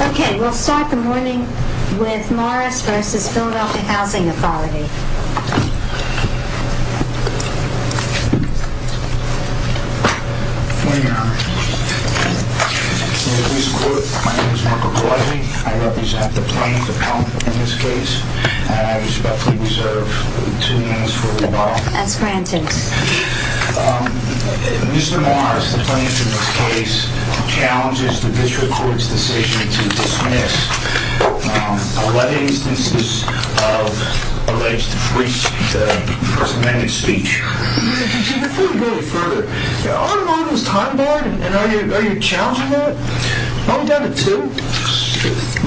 Okay, we'll start the morning with Morris versus Philadelphia Housing Authority. Good morning, Your Honor. In this court, my name is Mark McCartney. I represent the plaintiff's appellant in this case, and I respectfully reserve two minutes for rebuttal. As granted. Mr. Morris, the plaintiff in this case, challenges the district court's decision to dismiss 11 instances of alleged free speech. Before we go any further, are you challenging that? No, I'm down to two.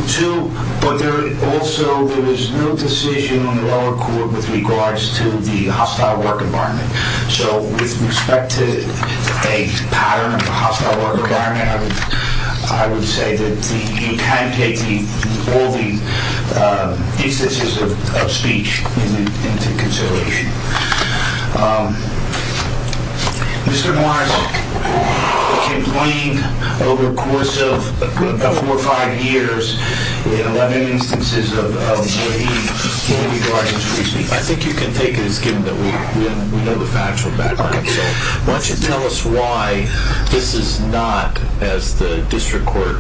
Two, but also there is no decision in the lower court with regards to the hostile work environment. So with respect to a pattern of a hostile work environment, I would say that you can take all the instances of speech into consideration. Mr. Morris, a complaint over the course of four or five years in 11 instances of waived in regards to free speech. I think you can take it as given that we know the factual Why don't you tell us why this is not, as the district court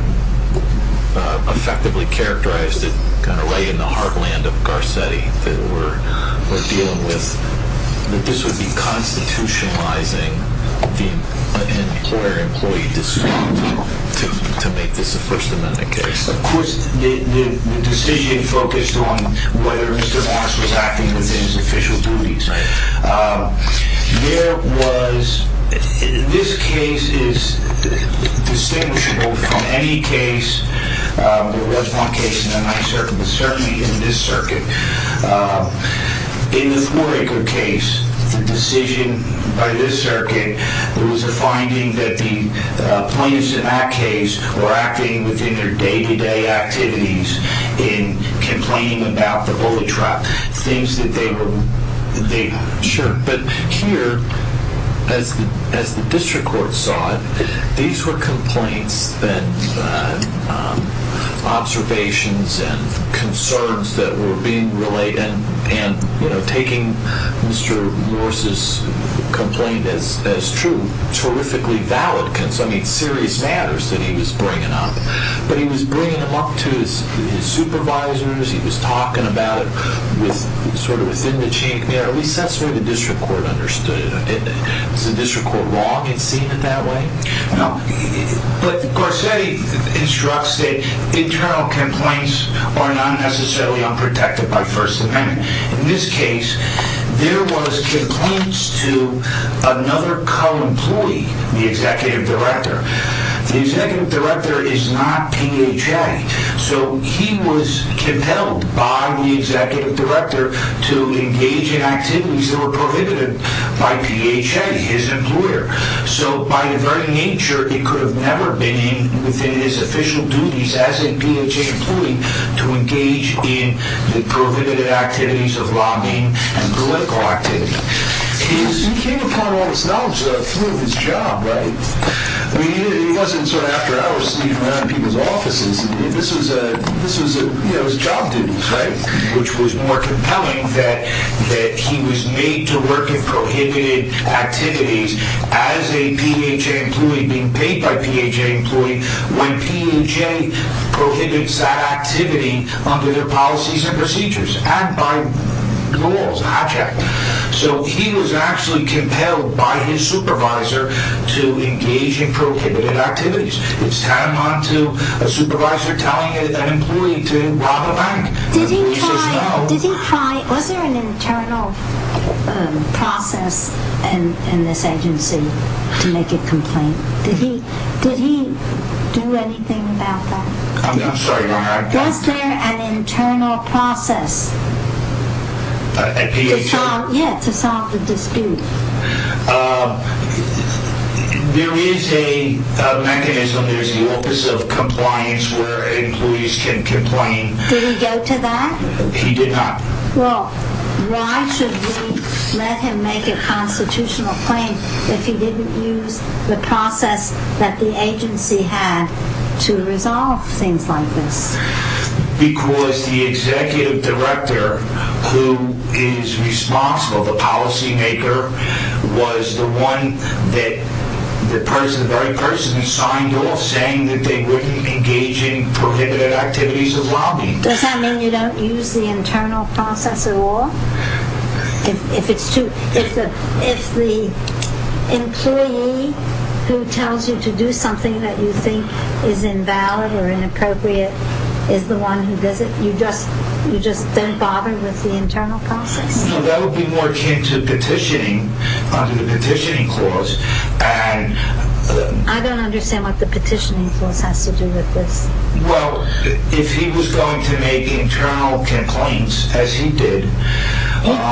effectively characterized it, kind of right in the heartland of Garcetti that we're dealing with, that this would be constitutionalizing the employer-employee dispute to make this a First Amendment case. Of course, the decision focused on whether Mr. Morris was acting within his official duties. This case is distinguishable from any case, there was one case in the Ninth Circuit, but certainly in this circuit. In the Thornacre case, the decision by this circuit, there was a finding that the plaintiffs in that case were acting within their day-to-day activities in complaining about the bully trap. Sure, but here, as the district court saw it, these were complaints and observations and concerns that were being relayed, and taking Mr. Morris's complaint as true, I mean, serious matters that he was bringing up, but he was bringing them up to his supervisors, he was talking about it sort of within the chink. At least that's the way the district court understood it. Is the district court wrong in seeing it that way? No, but Garcetti instructs that internal complaints are not necessarily unprotected by First Amendment. In this case, there was complaints to another co-employee, the Executive Director. The Executive Director is not PHA, so he was compelled by the Executive Director to engage in activities that were prohibited by PHA, his employer. So, by the very nature, it could have never been within his official duties as a PHA employee to engage in the prohibited activities of lobbying and political activity. He came upon all this knowledge through his job, right? I mean, it wasn't sort of after hours, sneaking around people's offices. This was, you know, his job duties, right? Which was more compelling that he was made to work in prohibited activities as a PHA employee, being paid by PHA employees, when PHA prohibits that activity under their policies and procedures, and by laws, object. So, he was actually compelled by his supervisor to engage in prohibited activities. It's tantamount to a supervisor telling an employee to rob a bank. Was there an internal process in this agency to make a complaint? Did he do anything about that? I'm sorry, Your Honor. Was there an internal process? At PHA? Yeah, to solve the dispute. There is a mechanism, there's an office of compliance where employees can complain. Did he go to that? He did not. Well, why should we let him make a constitutional claim if he didn't use the process that the agency had to resolve things like this? Because the executive director who is responsible, the policymaker, was the one that the very person signed off saying that they wouldn't engage in prohibited activities of lobbying. Does that mean you don't use the internal process at all? If the employee who tells you to do something that you think is invalid or inappropriate is the one who does it, you just don't bother with the internal process? No, that would be more akin to petitioning under the petitioning clause. I don't understand what the petitioning clause has to do with this. Well, if he was going to make internal complaints, as he did...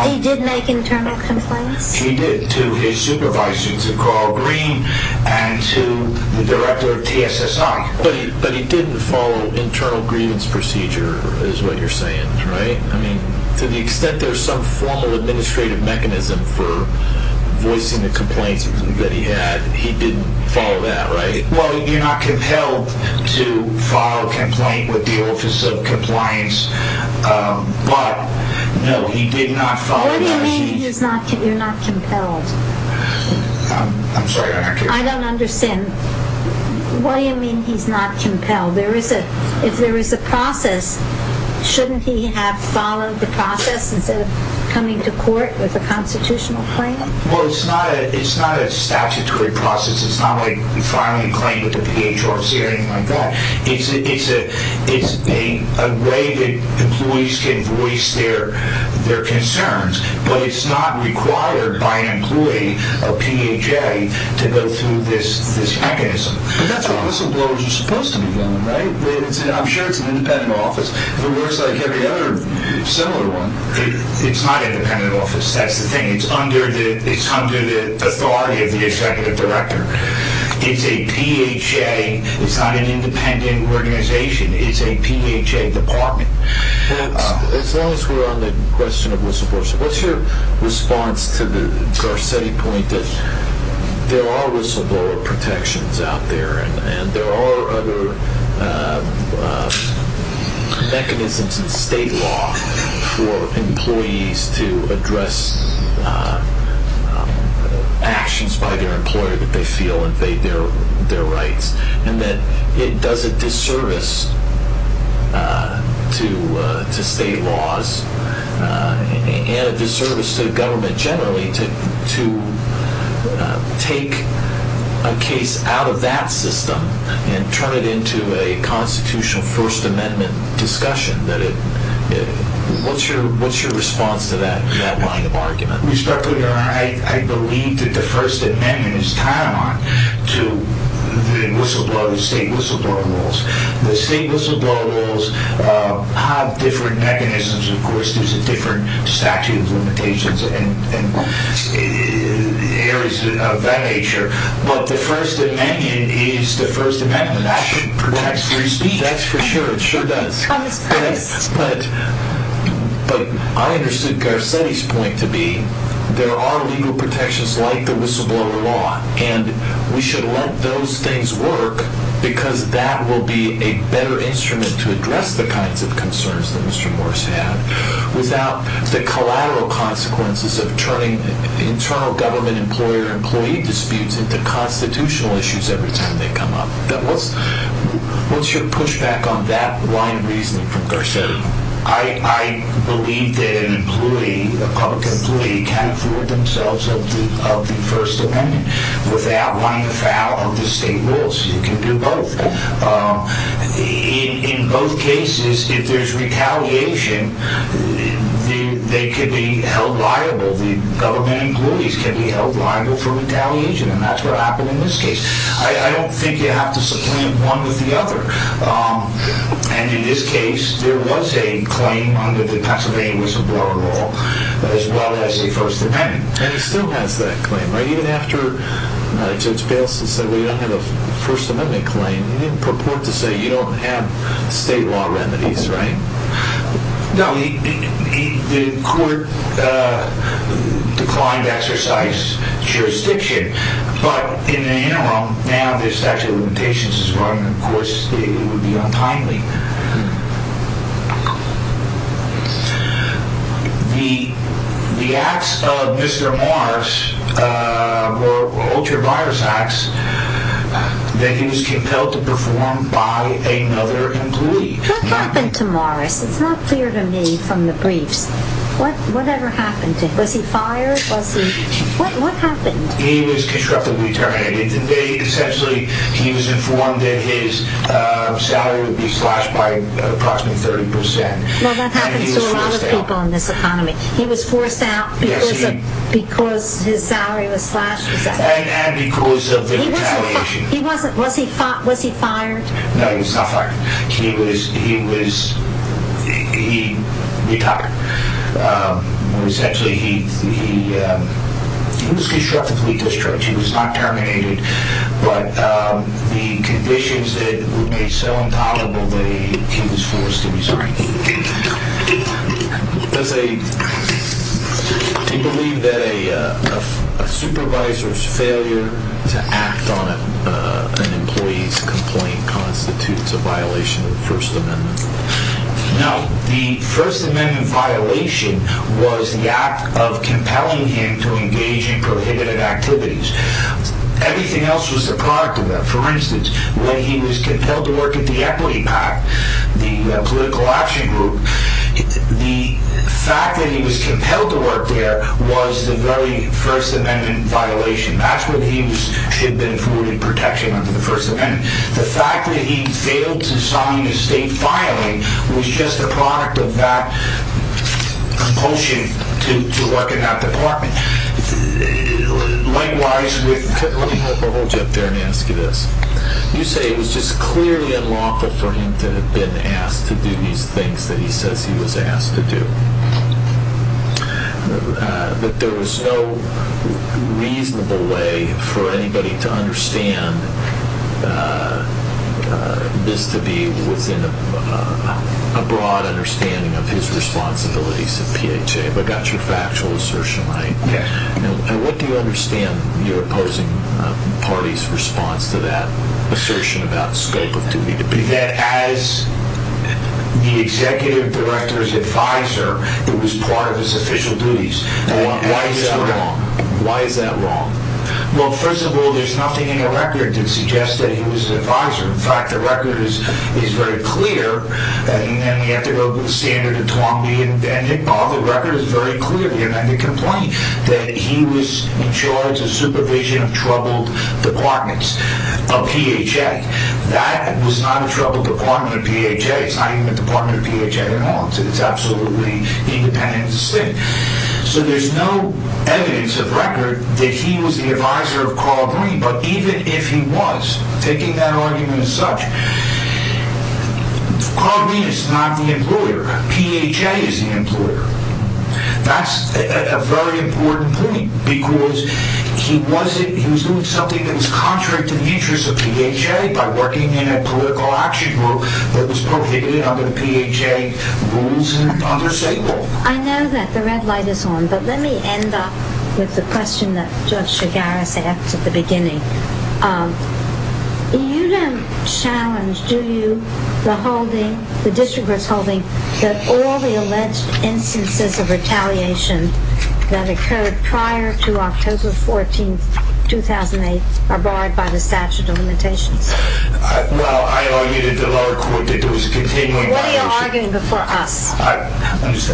He did make internal complaints? He did, to his supervisor, to Carl Green, and to the director of TSSI. But he didn't follow internal grievance procedure, is what you're saying, right? I mean, to the extent there's some formal administrative mechanism for voicing the complaints that he had, he didn't follow that, right? Well, you're not compelled to file a complaint with the Office of Compliance, but, no, he did not follow that. What do you mean you're not compelled? I'm sorry, I don't understand. What do you mean he's not compelled? If there is a process, shouldn't he have followed the process instead of coming to court with a constitutional claim? Well, it's not a statutory process. It's not like filing a claim with the PHRC or anything like that. It's a way that employees can voice their concerns, but it's not required by an employee of PHA to go through this mechanism. But that's what whistleblowers are supposed to be doing, right? I'm sure it's an independent office. If it works like every other similar one, it's not an independent office. That's the thing. It's under the authority of the executive director. It's a PHA. It's not an independent organization. It's a PHA department. Well, as long as we're on the question of whistleblowers, what's your response to the Garcetti point that there are whistleblower protections out there and there are other mechanisms in state law for employees to address actions by their employer that they feel invade their rights and that it does a disservice to state laws and a disservice to government generally to take a case out of that system and turn it into a constitutional First Amendment discussion? What's your response to that line of argument? Respectfully, I believe that the First Amendment is tied on to the whistleblowers, the state whistleblower laws. The state whistleblower laws have different mechanisms. Of course, there's a different statute of limitations and areas of that nature. But the First Amendment is the First Amendment. That protects free speech. That's for sure. It sure does. But I understood Garcetti's point to be there are legal protections like the whistleblower law, and we should let those things work because that will be a better instrument to address the kinds of concerns that Mr. Morris had without the collateral consequences of turning internal government employer-employee disputes into constitutional issues every time they come up. What's your pushback on that line of reasoning from Garcetti? I believe that an employee, a public employee, can afford themselves of the First Amendment without running afoul of the state rules. You can do both. In both cases, if there's retaliation, they can be held liable, the government employees can be held liable for retaliation, and that's what happened in this case. I don't think you have to supplant one with the other. And in this case, there was a claim under the Pennsylvania whistleblower law as well as the First Amendment. And it still has that claim, right? Even after Judge Bailson said, well, you don't have a First Amendment claim, he didn't purport to say you don't have state law remedies, right? No. The court declined to exercise jurisdiction, but in the interim, now the statute of limitations is running, of course, it would be untimely. The acts of Mr. Morris were ultra-virus acts that he was compelled to perform by another employee. What happened to Morris? It's not clear to me from the briefs. Whatever happened to him? Was he fired? What happened? He was constructively terminated. Essentially, he was informed that his salary would be slashed by approximately 30%. Well, that happens to a lot of people in this economy. He was forced out because his salary was slashed. And because of the retaliation. Was he fired? No, he was not fired. He was retired. Essentially, he was constructively discharged. He was not terminated. But the conditions were made so intolerable that he was forced to resign. Do you believe that a supervisor's failure to act on an employee's complaint constitutes a violation of the First Amendment? No. The First Amendment violation was the act of compelling him to engage in prohibitive activities. Everything else was the product of that. For instance, when he was compelled to work at the Equity PAC, the political action group, the fact that he was compelled to work there was the very First Amendment violation. That's when he should have been afforded protection under the First Amendment. The fact that he failed to sign a state filing was just a product of that compulsion to work in that department. Let me hold you up there and ask you this. You say it was just clearly unlawful for him to have been asked to do these things that he says he was asked to do. But there was no reasonable way for anybody to understand this to be within a broad understanding of his responsibilities at PHA. Have I got your factual assertion right? Yes. And what do you understand your opposing party's response to that assertion about scope of duty? That as the executive director's advisor, it was part of his official duties. Why is that wrong? Why is that wrong? Well, first of all, there's nothing in the record that suggests that he was an advisor. In fact, the record is very clear. And then we have to go to the standard of Twombly and Dengick. All the record is very clear. We don't have to complain that he was in charge of supervision of troubled departments of PHA. That was not a troubled department of PHA. It's not even a department of PHA at all. It's absolutely independent of the state. So there's no evidence of record that he was the advisor of Carl Green. But even if he was, taking that argument as such, Carl Green is not the employer. PHA is the employer. That's a very important point because he was doing something that was contrary to the interests of PHA by working in a political action group that was prohibited under the PHA rules and under Sable. I know that the red light is on, but let me end up with the question that Judge Chigaris asked at the beginning. You don't challenge, do you, the holding, the district court's holding, that all the alleged instances of retaliation that occurred prior to October 14, 2008, are barred by the statute of limitations? Well, I argued at the lower court that there was a continuing violation. What are you arguing before us? Yes,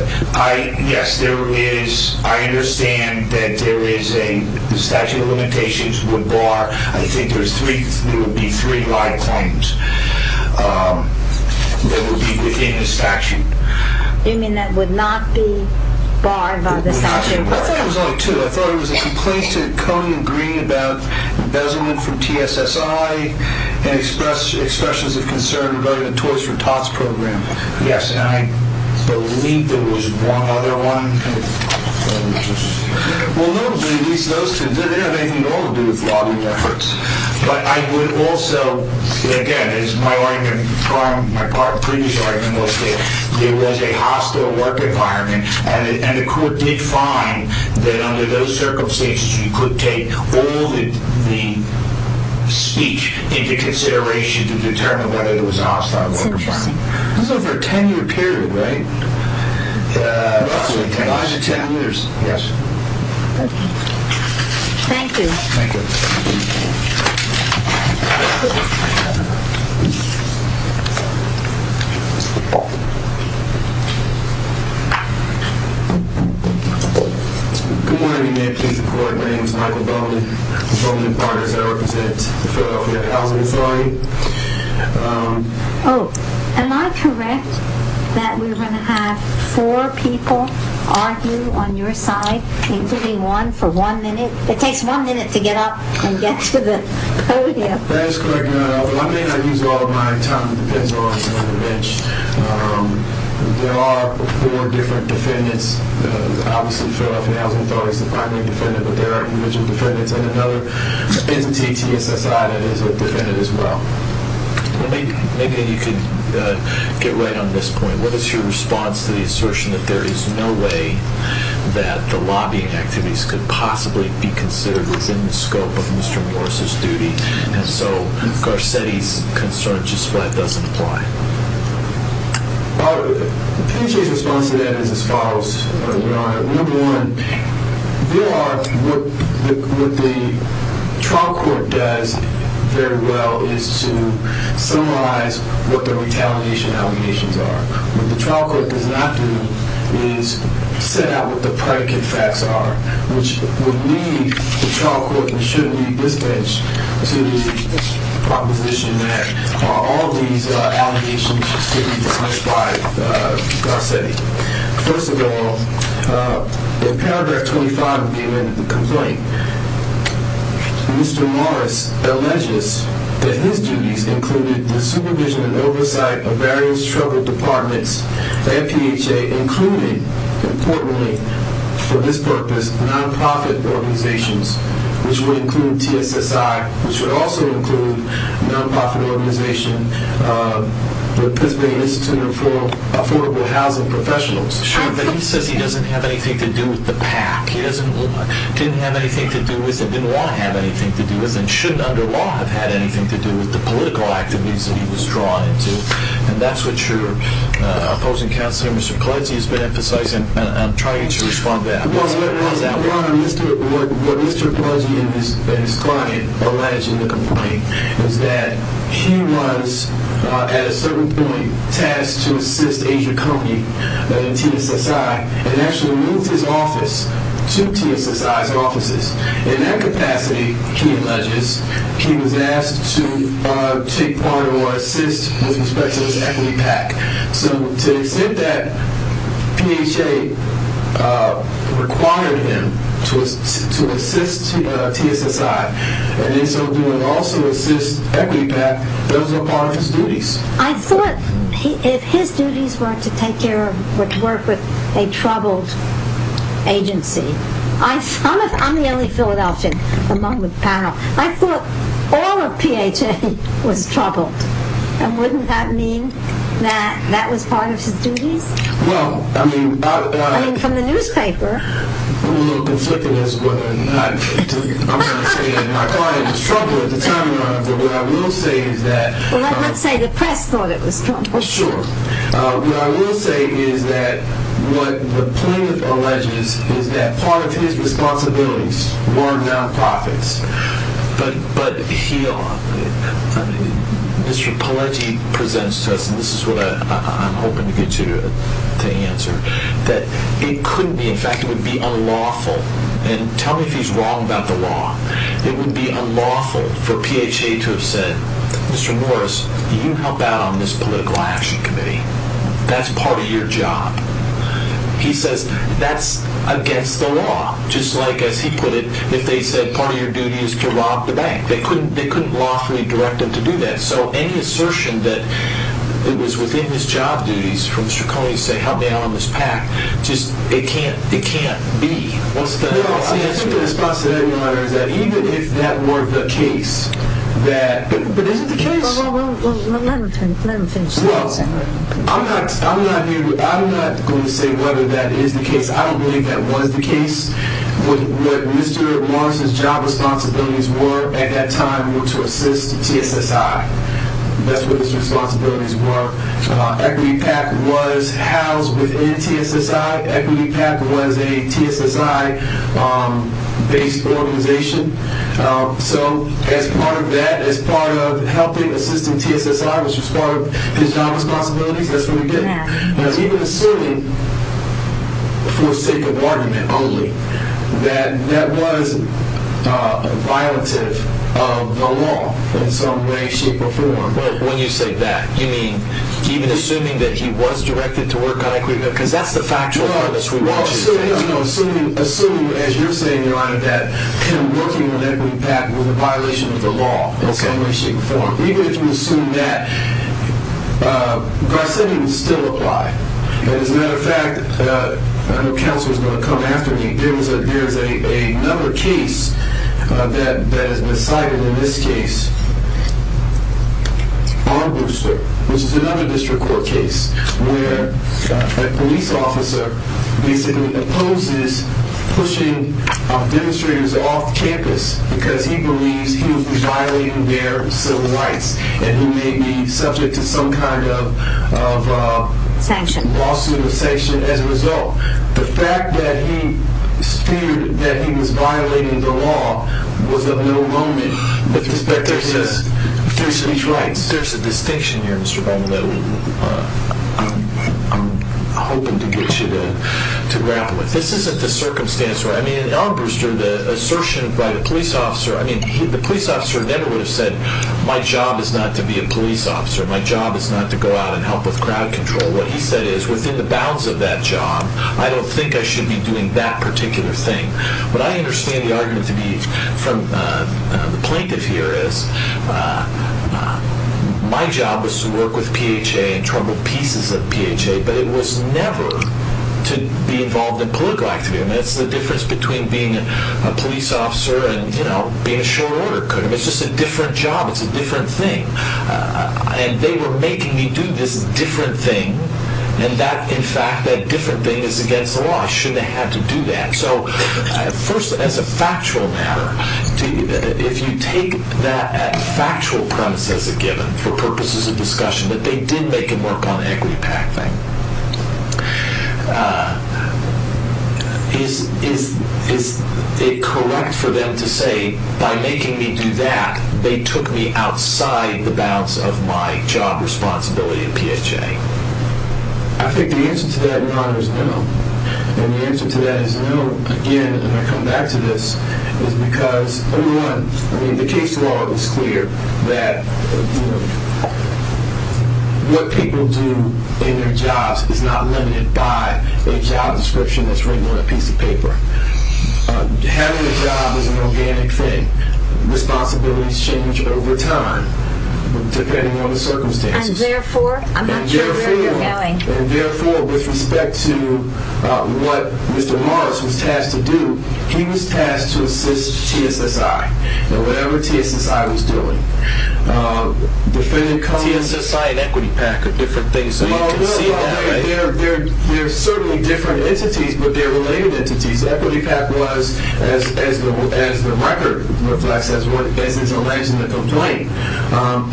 I understand that there is a statute of limitations would bar. I think there would be three live claims that would be within the statute. You mean that would not be barred by the statute? I thought it was only two. I thought it was a complaint to Coney and Green about embezzlement from TSSI and expressions of concern regarding the Toys for Tots program. Yes, and I believe there was one other one. Well, no, at least those two didn't have anything at all to do with lobbying efforts. But I would also, again, as my previous argument was that it was a hostile work environment, and the court did find that under those circumstances you could take all the speech into consideration This is over a 10-year period, right? Approximately 10 years. Approximately 10 years, yes. Okay. Thank you. Thank you. Good morning, Madam Chief of Court. My name is Michael Bowman. I'm Bowman's partner, so I represent Philadelphia Housing Authority. Oh, am I correct that we're going to have four people argue on your side, including one, for one minute? It takes one minute to get up and get to the podium. That is correct, Your Honor. But I may not use all of my time. It depends on the bench. There are four different defendants. Obviously, Philadelphia Housing Authority is the primary defendant, but there are individual defendants, and another entity, TSSI, that is a defendant as well. Maybe you could get right on this point. What is your response to the assertion that there is no way that the lobbying activities could possibly be considered within the scope of Mr. Morris' duty, and so Garcetti's concern just flat doesn't apply? The case's response to that is as follows, Your Honor. Number one, what the trial court does very well is to summarize what the retaliation allegations are. What the trial court does not do is set out what the predicate facts are, which would lead the trial court and should lead this bench to the proposition that all these allegations should be dismissed by Garcetti. First of all, in paragraph 25 of the complaint, Mr. Morris alleges that his duties included the supervision and oversight of various troubled departments, MPHA included, importantly, for this purpose, non-profit organizations, which would include TSSI, which would also include non-profit organizations, but principally instituted for affordable housing professionals. Sure, but he says he doesn't have anything to do with the PAC. He didn't have anything to do with it, didn't want to have anything to do with it, and shouldn't, under law, have had anything to do with the political activities that he was drawn into. And that's what your opposing counselor, Mr. Polizzi, has been emphasizing, and I'm trying to respond to that. What Mr. Polizzi and his client allege in the complaint is that he was, at a certain point, tasked to assist Asia Company and TSSI, and actually moved his office to TSSI's offices. In that capacity, he alleges, he was asked to take part or assist with respect to this equity PAC. So to the extent that PHA required him to assist TSSI, and also assist equity PAC, those were part of his duties. I thought if his duties were to take care of, to work with a troubled agency, I'm the only Philadelphia among the panel, I thought all of PHA was troubled. And wouldn't that mean that that was part of his duties? Well, I mean... I mean, from the newspaper. I'm a little conflicted as to whether or not I'm going to say that my client was troubled at the time or not. But what I will say is that... Well, let's say the press thought it was troubled. Sure. What I will say is that what the plaintiff alleges is that part of his responsibilities were non-profits. But he... Mr. Pawlenty presents to us, and this is what I'm hoping to get you to answer, that it could be, in fact, it would be unlawful. And tell me if he's wrong about the law. It would be unlawful for PHA to have said, Mr. Norris, you help out on this political action committee. That's part of your job. He says that's against the law. Just like, as he put it, if they said part of your duty is to rob the bank. They couldn't lawfully direct him to do that. So any assertion that it was within his job duties from Stracone to say help me out on this PAC, just, it can't be. No, I think the response to that, Your Honor, is that even if that were the case, that... But isn't the case... Well, let him finish. Well, I'm not here to... I'm not going to say whether that is the case. I don't believe that was the case. What Mr. Norris's job responsibilities were at that time were to assist TSSI. That's what his responsibilities were. Equity PAC was housed within TSSI. Equity PAC was a TSSI-based organization. So as part of that, as part of helping, assisting TSSI, which was part of his job responsibilities, that's what he did. But even assuming, for the sake of argument only, that that was a violative of the law in some way, shape, or form... When you say that, you mean even assuming that he was directed to work on equity? Because that's the factual evidence we want you to have. Well, assuming, as you're saying, Your Honor, that him working on Equity PAC was a violation of the law in some way, shape, or form. Even if you assume that, Garcetti would still apply. As a matter of fact, I know counsel is going to come after me. There's another case that has been cited in this case on Brewster, which is another district court case, where a police officer basically opposes pushing demonstrators off campus because he believes he was violating their civil rights and he may be subject to some kind of... Sanction. Lawsuit or sanction as a result. The fact that he feared that he was violating the law was of no moment with respect to his rights. There's a distinction here, Mr. Bowman, that I'm hoping to get you to grapple with. This isn't the circumstance where... In Allen Brewster, the assertion by the police officer... The police officer never would have said, My job is not to be a police officer. My job is not to go out and help with crowd control. What he said is, within the bounds of that job, I don't think I should be doing that particular thing. What I understand the argument to be from the plaintiff here is, My job was to work with PHA and trouble pieces of PHA, but it was never to be involved in political activity. That's the difference between being a police officer and being a short order code. It's just a different job. It's a different thing. They were making me do this different thing, and that, in fact, that different thing is against the law. I shouldn't have had to do that. First, as a factual matter, that they did make him work on the equity pact thing. Is it correct for them to say, By making me do that, they took me outside the bounds of my job responsibility in PHA? I think the answer to that in honor is no. And the answer to that is no, again, and I come back to this, is because, number one, the case law is clear that what people do in their jobs is not limited by a job description that's written on a piece of paper. Having a job is an organic thing. Responsibilities change over time, depending on the circumstances. And therefore, I'm not sure where you're going. And therefore, with respect to what Mr. Morris was tasked to do, he was tasked to assist TSSI in whatever TSSI was doing. TSSI and equity pact are different things, so you can see that. They're certainly different entities, but they're related entities. Equity pact was, as the record reflects, as is alleged in the complaint,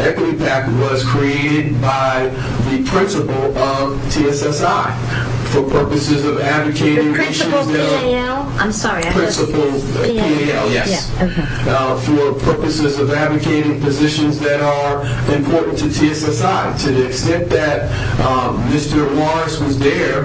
equity pact was created by the principal of TSSI for purposes of advocating issues that PAL? I'm sorry. Principal of PAL, yes. For purposes of advocating positions that are important to TSSI, to the extent that Mr. Morris was there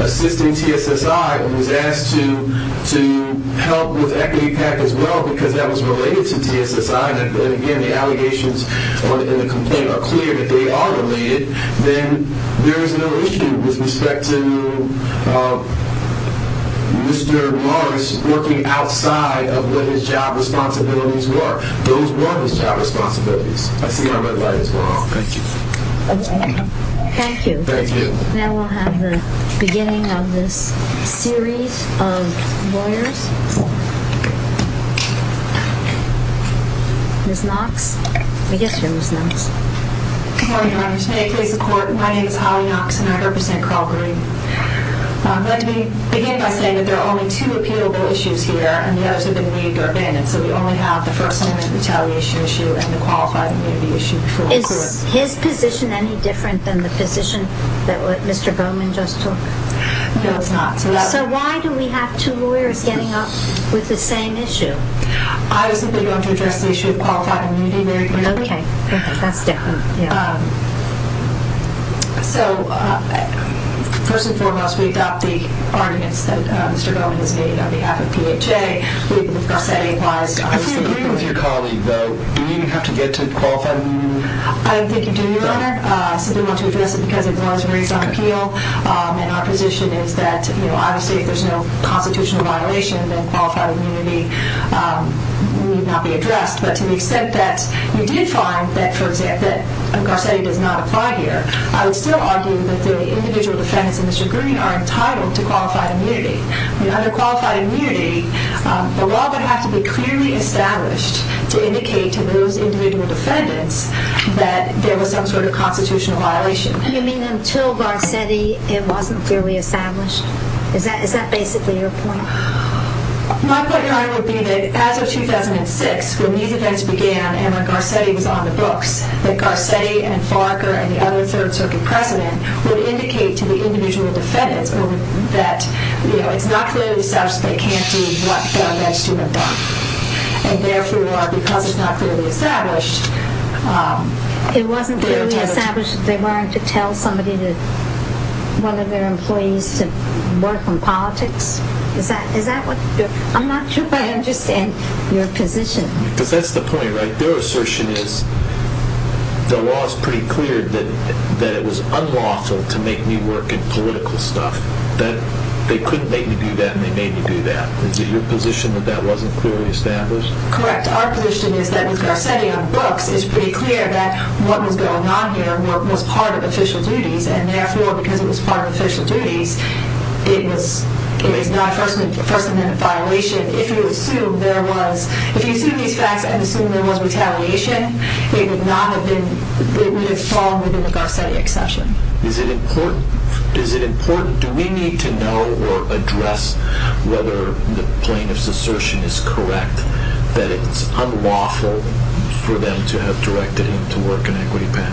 assisting TSSI and was asked to help with equity pact as well because that was related to TSSI, and again, the allegations in the complaint are clear that they are related, then there is no issue with respect to Mr. Morris working outside of what his job responsibilities were. Those were his job responsibilities. I see my red light is gone. Thank you. Thank you. Thank you. Then we'll have the beginning of this series of lawyers. Ms. Knox? I guess you're Ms. Knox. Good morning, Your Honor. May it please the Court? My name is Holly Knox, and I represent Carl Green. Let me begin by saying that there are only two appealable issues here, and the others have been moved or abandoned, so we only have the first amendment retaliation issue and the qualified immunity issue before us. Is his position any different than the position that Mr. Bowman just took? No, it's not. So why do we have two lawyers getting up with the same issue? I was simply going to address the issue of qualified immunity. Okay. That's definite. So first and foremost, we adopt the arguments that Mr. Bowman has made on behalf of PHA. Our setting applies. I disagree with your colleague, though. Do we even have to get to qualified immunity? I think you do, Your Honor. I simply want to address it because it was raised on appeal, and our position is that, you know, obviously if there's no constitutional violation, then qualified immunity need not be addressed. But to the extent that we did find that, for example, that Garcetti does not apply here, I would still argue that the individual defendants in this agreement are entitled to qualified immunity. Under qualified immunity, the law would have to be clearly established to indicate to those individual defendants that there was some sort of constitutional violation. And you mean until Garcetti it wasn't clearly established? Is that basically your point? My point, Your Honor, would be that as of 2006, when these events began and when Garcetti was on the books, that Garcetti and Farquhar and the other third circuit precedent would indicate to the individual defendants that it's not clearly established that they can't do what they're alleged to have done. And therefore, because it's not clearly established, they're entitled to- It wasn't clearly established that they weren't to tell somebody to- I'm not sure I understand your position. Because that's the point, right? Their assertion is the law is pretty clear that it was unlawful to make me work in political stuff, that they couldn't make me do that and they made me do that. Is it your position that that wasn't clearly established? Correct. Our position is that with Garcetti on books, it's pretty clear that what was going on here was part of official duties, and therefore, because it was part of official duties, it is not a First Amendment violation. If you assume these facts and assume there was retaliation, it would have fallen within the Garcetti exception. Is it important? Do we need to know or address whether the plaintiff's assertion is correct that it's unlawful for them to have directed him to work in equity pay?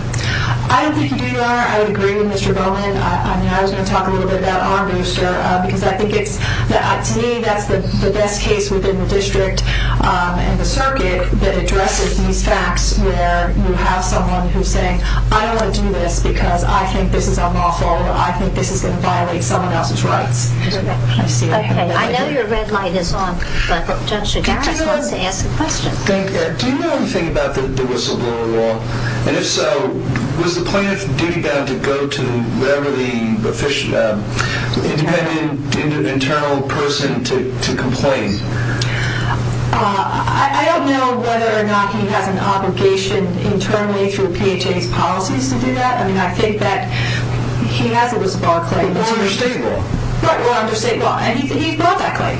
I don't think you do, Your Honor. I would agree with Mr. Bowman. I was going to talk a little bit about Armbruster, because I think to me that's the best case within the district and the circuit that addresses these facts where you have someone who's saying, I don't want to do this because I think this is unlawful or I think this is going to violate someone else's rights. Okay. I know your red light is on, but Judge Chigaris wants to ask a question. Thank you. Do you know anything about the whistleblower law? And if so, was the plaintiff's duty bound to go to whatever the independent internal person to complain? I don't know whether or not he has an obligation internally through PHA's policies to do that. I mean, I think that he has a whistleblower claim. Or under state law. Right, or under state law, and he brought that claim.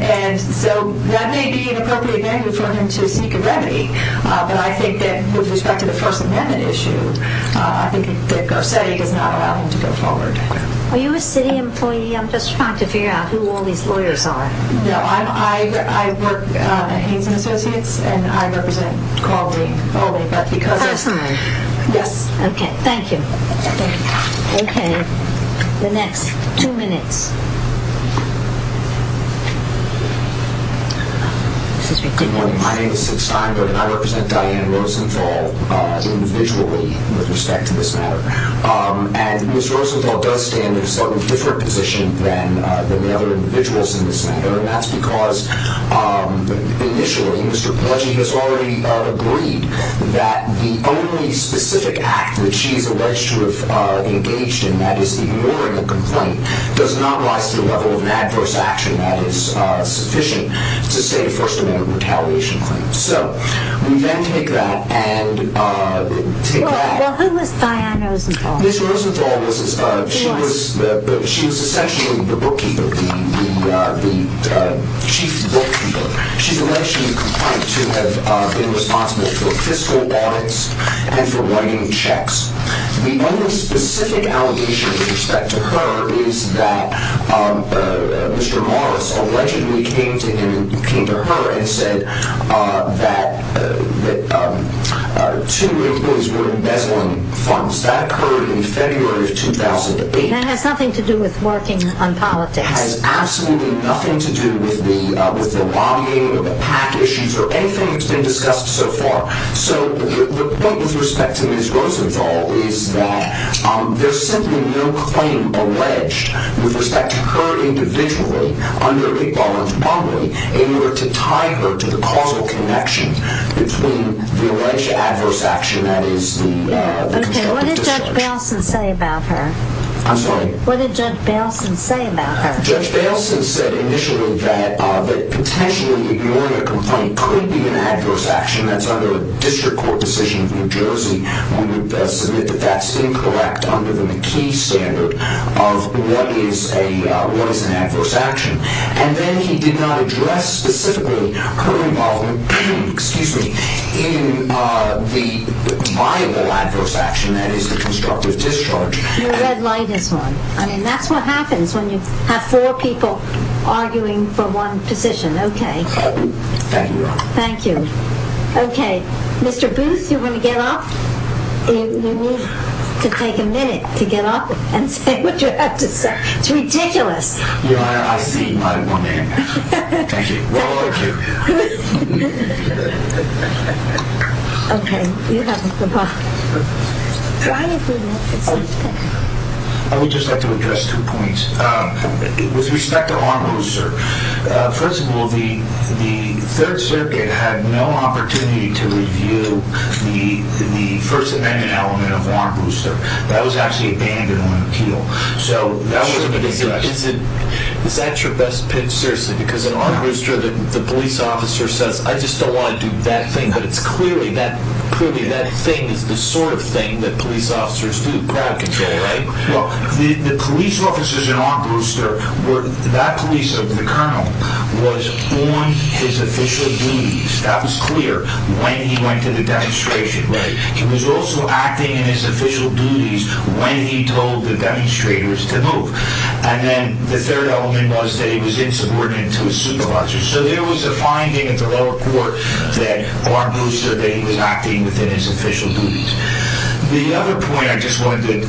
And so that may be an appropriate venue for him to seek a remedy, but I think that with respect to the First Amendment issue, I think that GARCETTI does not allow him to go forward. Are you a city employee? I'm just trying to figure out who all these lawyers are. No, I work at Haynes & Associates, and I represent Caldwell. Personally? Yes. Okay. Thank you. Okay. The next two minutes. Good morning. My name is Sid Steinberg, and I represent Diane Rosenthal individually with respect to this matter. And Ms. Rosenthal does stand in a slightly different position than the other individuals in this matter, and that's because initially Mr. Pelleggi has already agreed that the only specific act that she's alleged to have engaged in, that is ignoring a complaint, does not rise to the level of an adverse action that is sufficient to state a First Amendment retaliation claim. So we then take that and take that. Well, who was Diane Rosenthal? Ms. Rosenthal was essentially the bookkeeper, the chief bookkeeper. She's alleged to have been responsible for fiscal audits and for writing checks. The only specific allegation with respect to her is that Mr. Morris allegedly came to her and said that two of his bills were in bezel funds. That occurred in February of 2008. That has nothing to do with working on politics. It has absolutely nothing to do with the lobbying or the PAC issues or anything that's been discussed so far. So the point with respect to Ms. Rosenthal is that there's simply no claim alleged with respect to her individually under the Orange Bomber in order to tie her to the causal connection between the alleged adverse action that is the complaint. Okay, what did Judge Baleson say about her? I'm sorry? What did Judge Baleson say about her? Judge Baleson said initially that potentially ignoring a complaint could be an adverse action that's under a district court decision of New Jersey. We would submit that that's incorrect under the McKee standard of what is an adverse action. And then he did not address specifically her involvement in the viable adverse action that is the constructive discharge. Your red light is on. I mean, that's what happens when you have four people arguing for one position. Okay. Thank you, Your Honor. Thank you. Okay. Mr. Booth, you want to get up? You need to take a minute to get up and say what you have to say. It's ridiculous. Your Honor, I see my woman. Thank you. Well, thank you. Okay. You have the floor. I would just like to address two points. With respect to Armbruster, first of all, the Third Circuit had no opportunity to review the First Amendment element of Armbruster. That was actually abandoned on appeal. Sure, but is that your best pitch? Seriously, because in Armbruster the police officer says, I just don't want to do that thing. But clearly that thing is the sort of thing that police officers do, crowd control, right? Well, the police officers in Armbruster, that police officer, the colonel, was on his official duties. That was clear when he went to the demonstration. He was also acting in his official duties when he told the demonstrators to move. And then the third element was that he was insubordinate to his supervisors. So there was a finding at the lower court that Armbruster, that he was acting within his official duties. The other point I just wanted to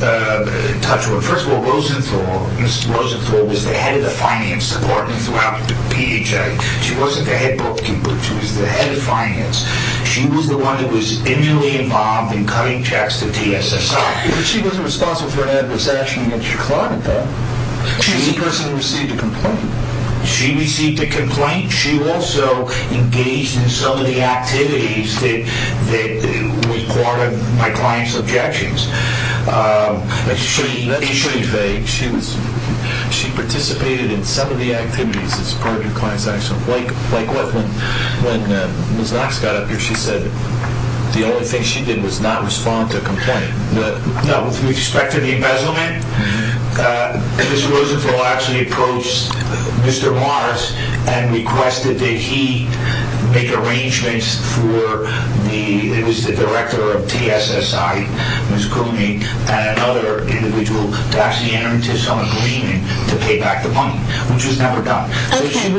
touch on, first of all, Ms. Rosenthal was the head of the finance department throughout PHA. She wasn't the head booking, but she was the head of finance. She was the one that was immediately involved in cutting checks to TSSI. But she wasn't responsible for an adverse action against your client, though. She personally received a complaint. She received a complaint. She also engaged in some of the activities that were part of my client's objections. She participated in some of the activities as part of your client's actions. Like what? When Ms. Knox got up here, she said the only thing she did was not respond to a complaint. No, with respect to the embezzlement, Ms. Rosenthal actually approached Mr. Morris and requested that he make arrangements for the director of TSSI, Ms. Cooney, and another individual to actually enter into some agreement to pay back the money, which was never done. Okay.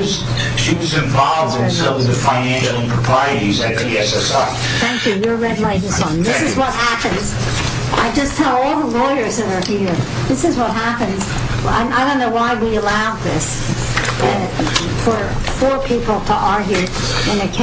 She was involved in some of the financial improprieties at TSSI. Thank you. You're a red light. This is what happens. I just tell all the lawyers that are here, this is what happens. I don't know why we allowed this. For four people to argue in a case.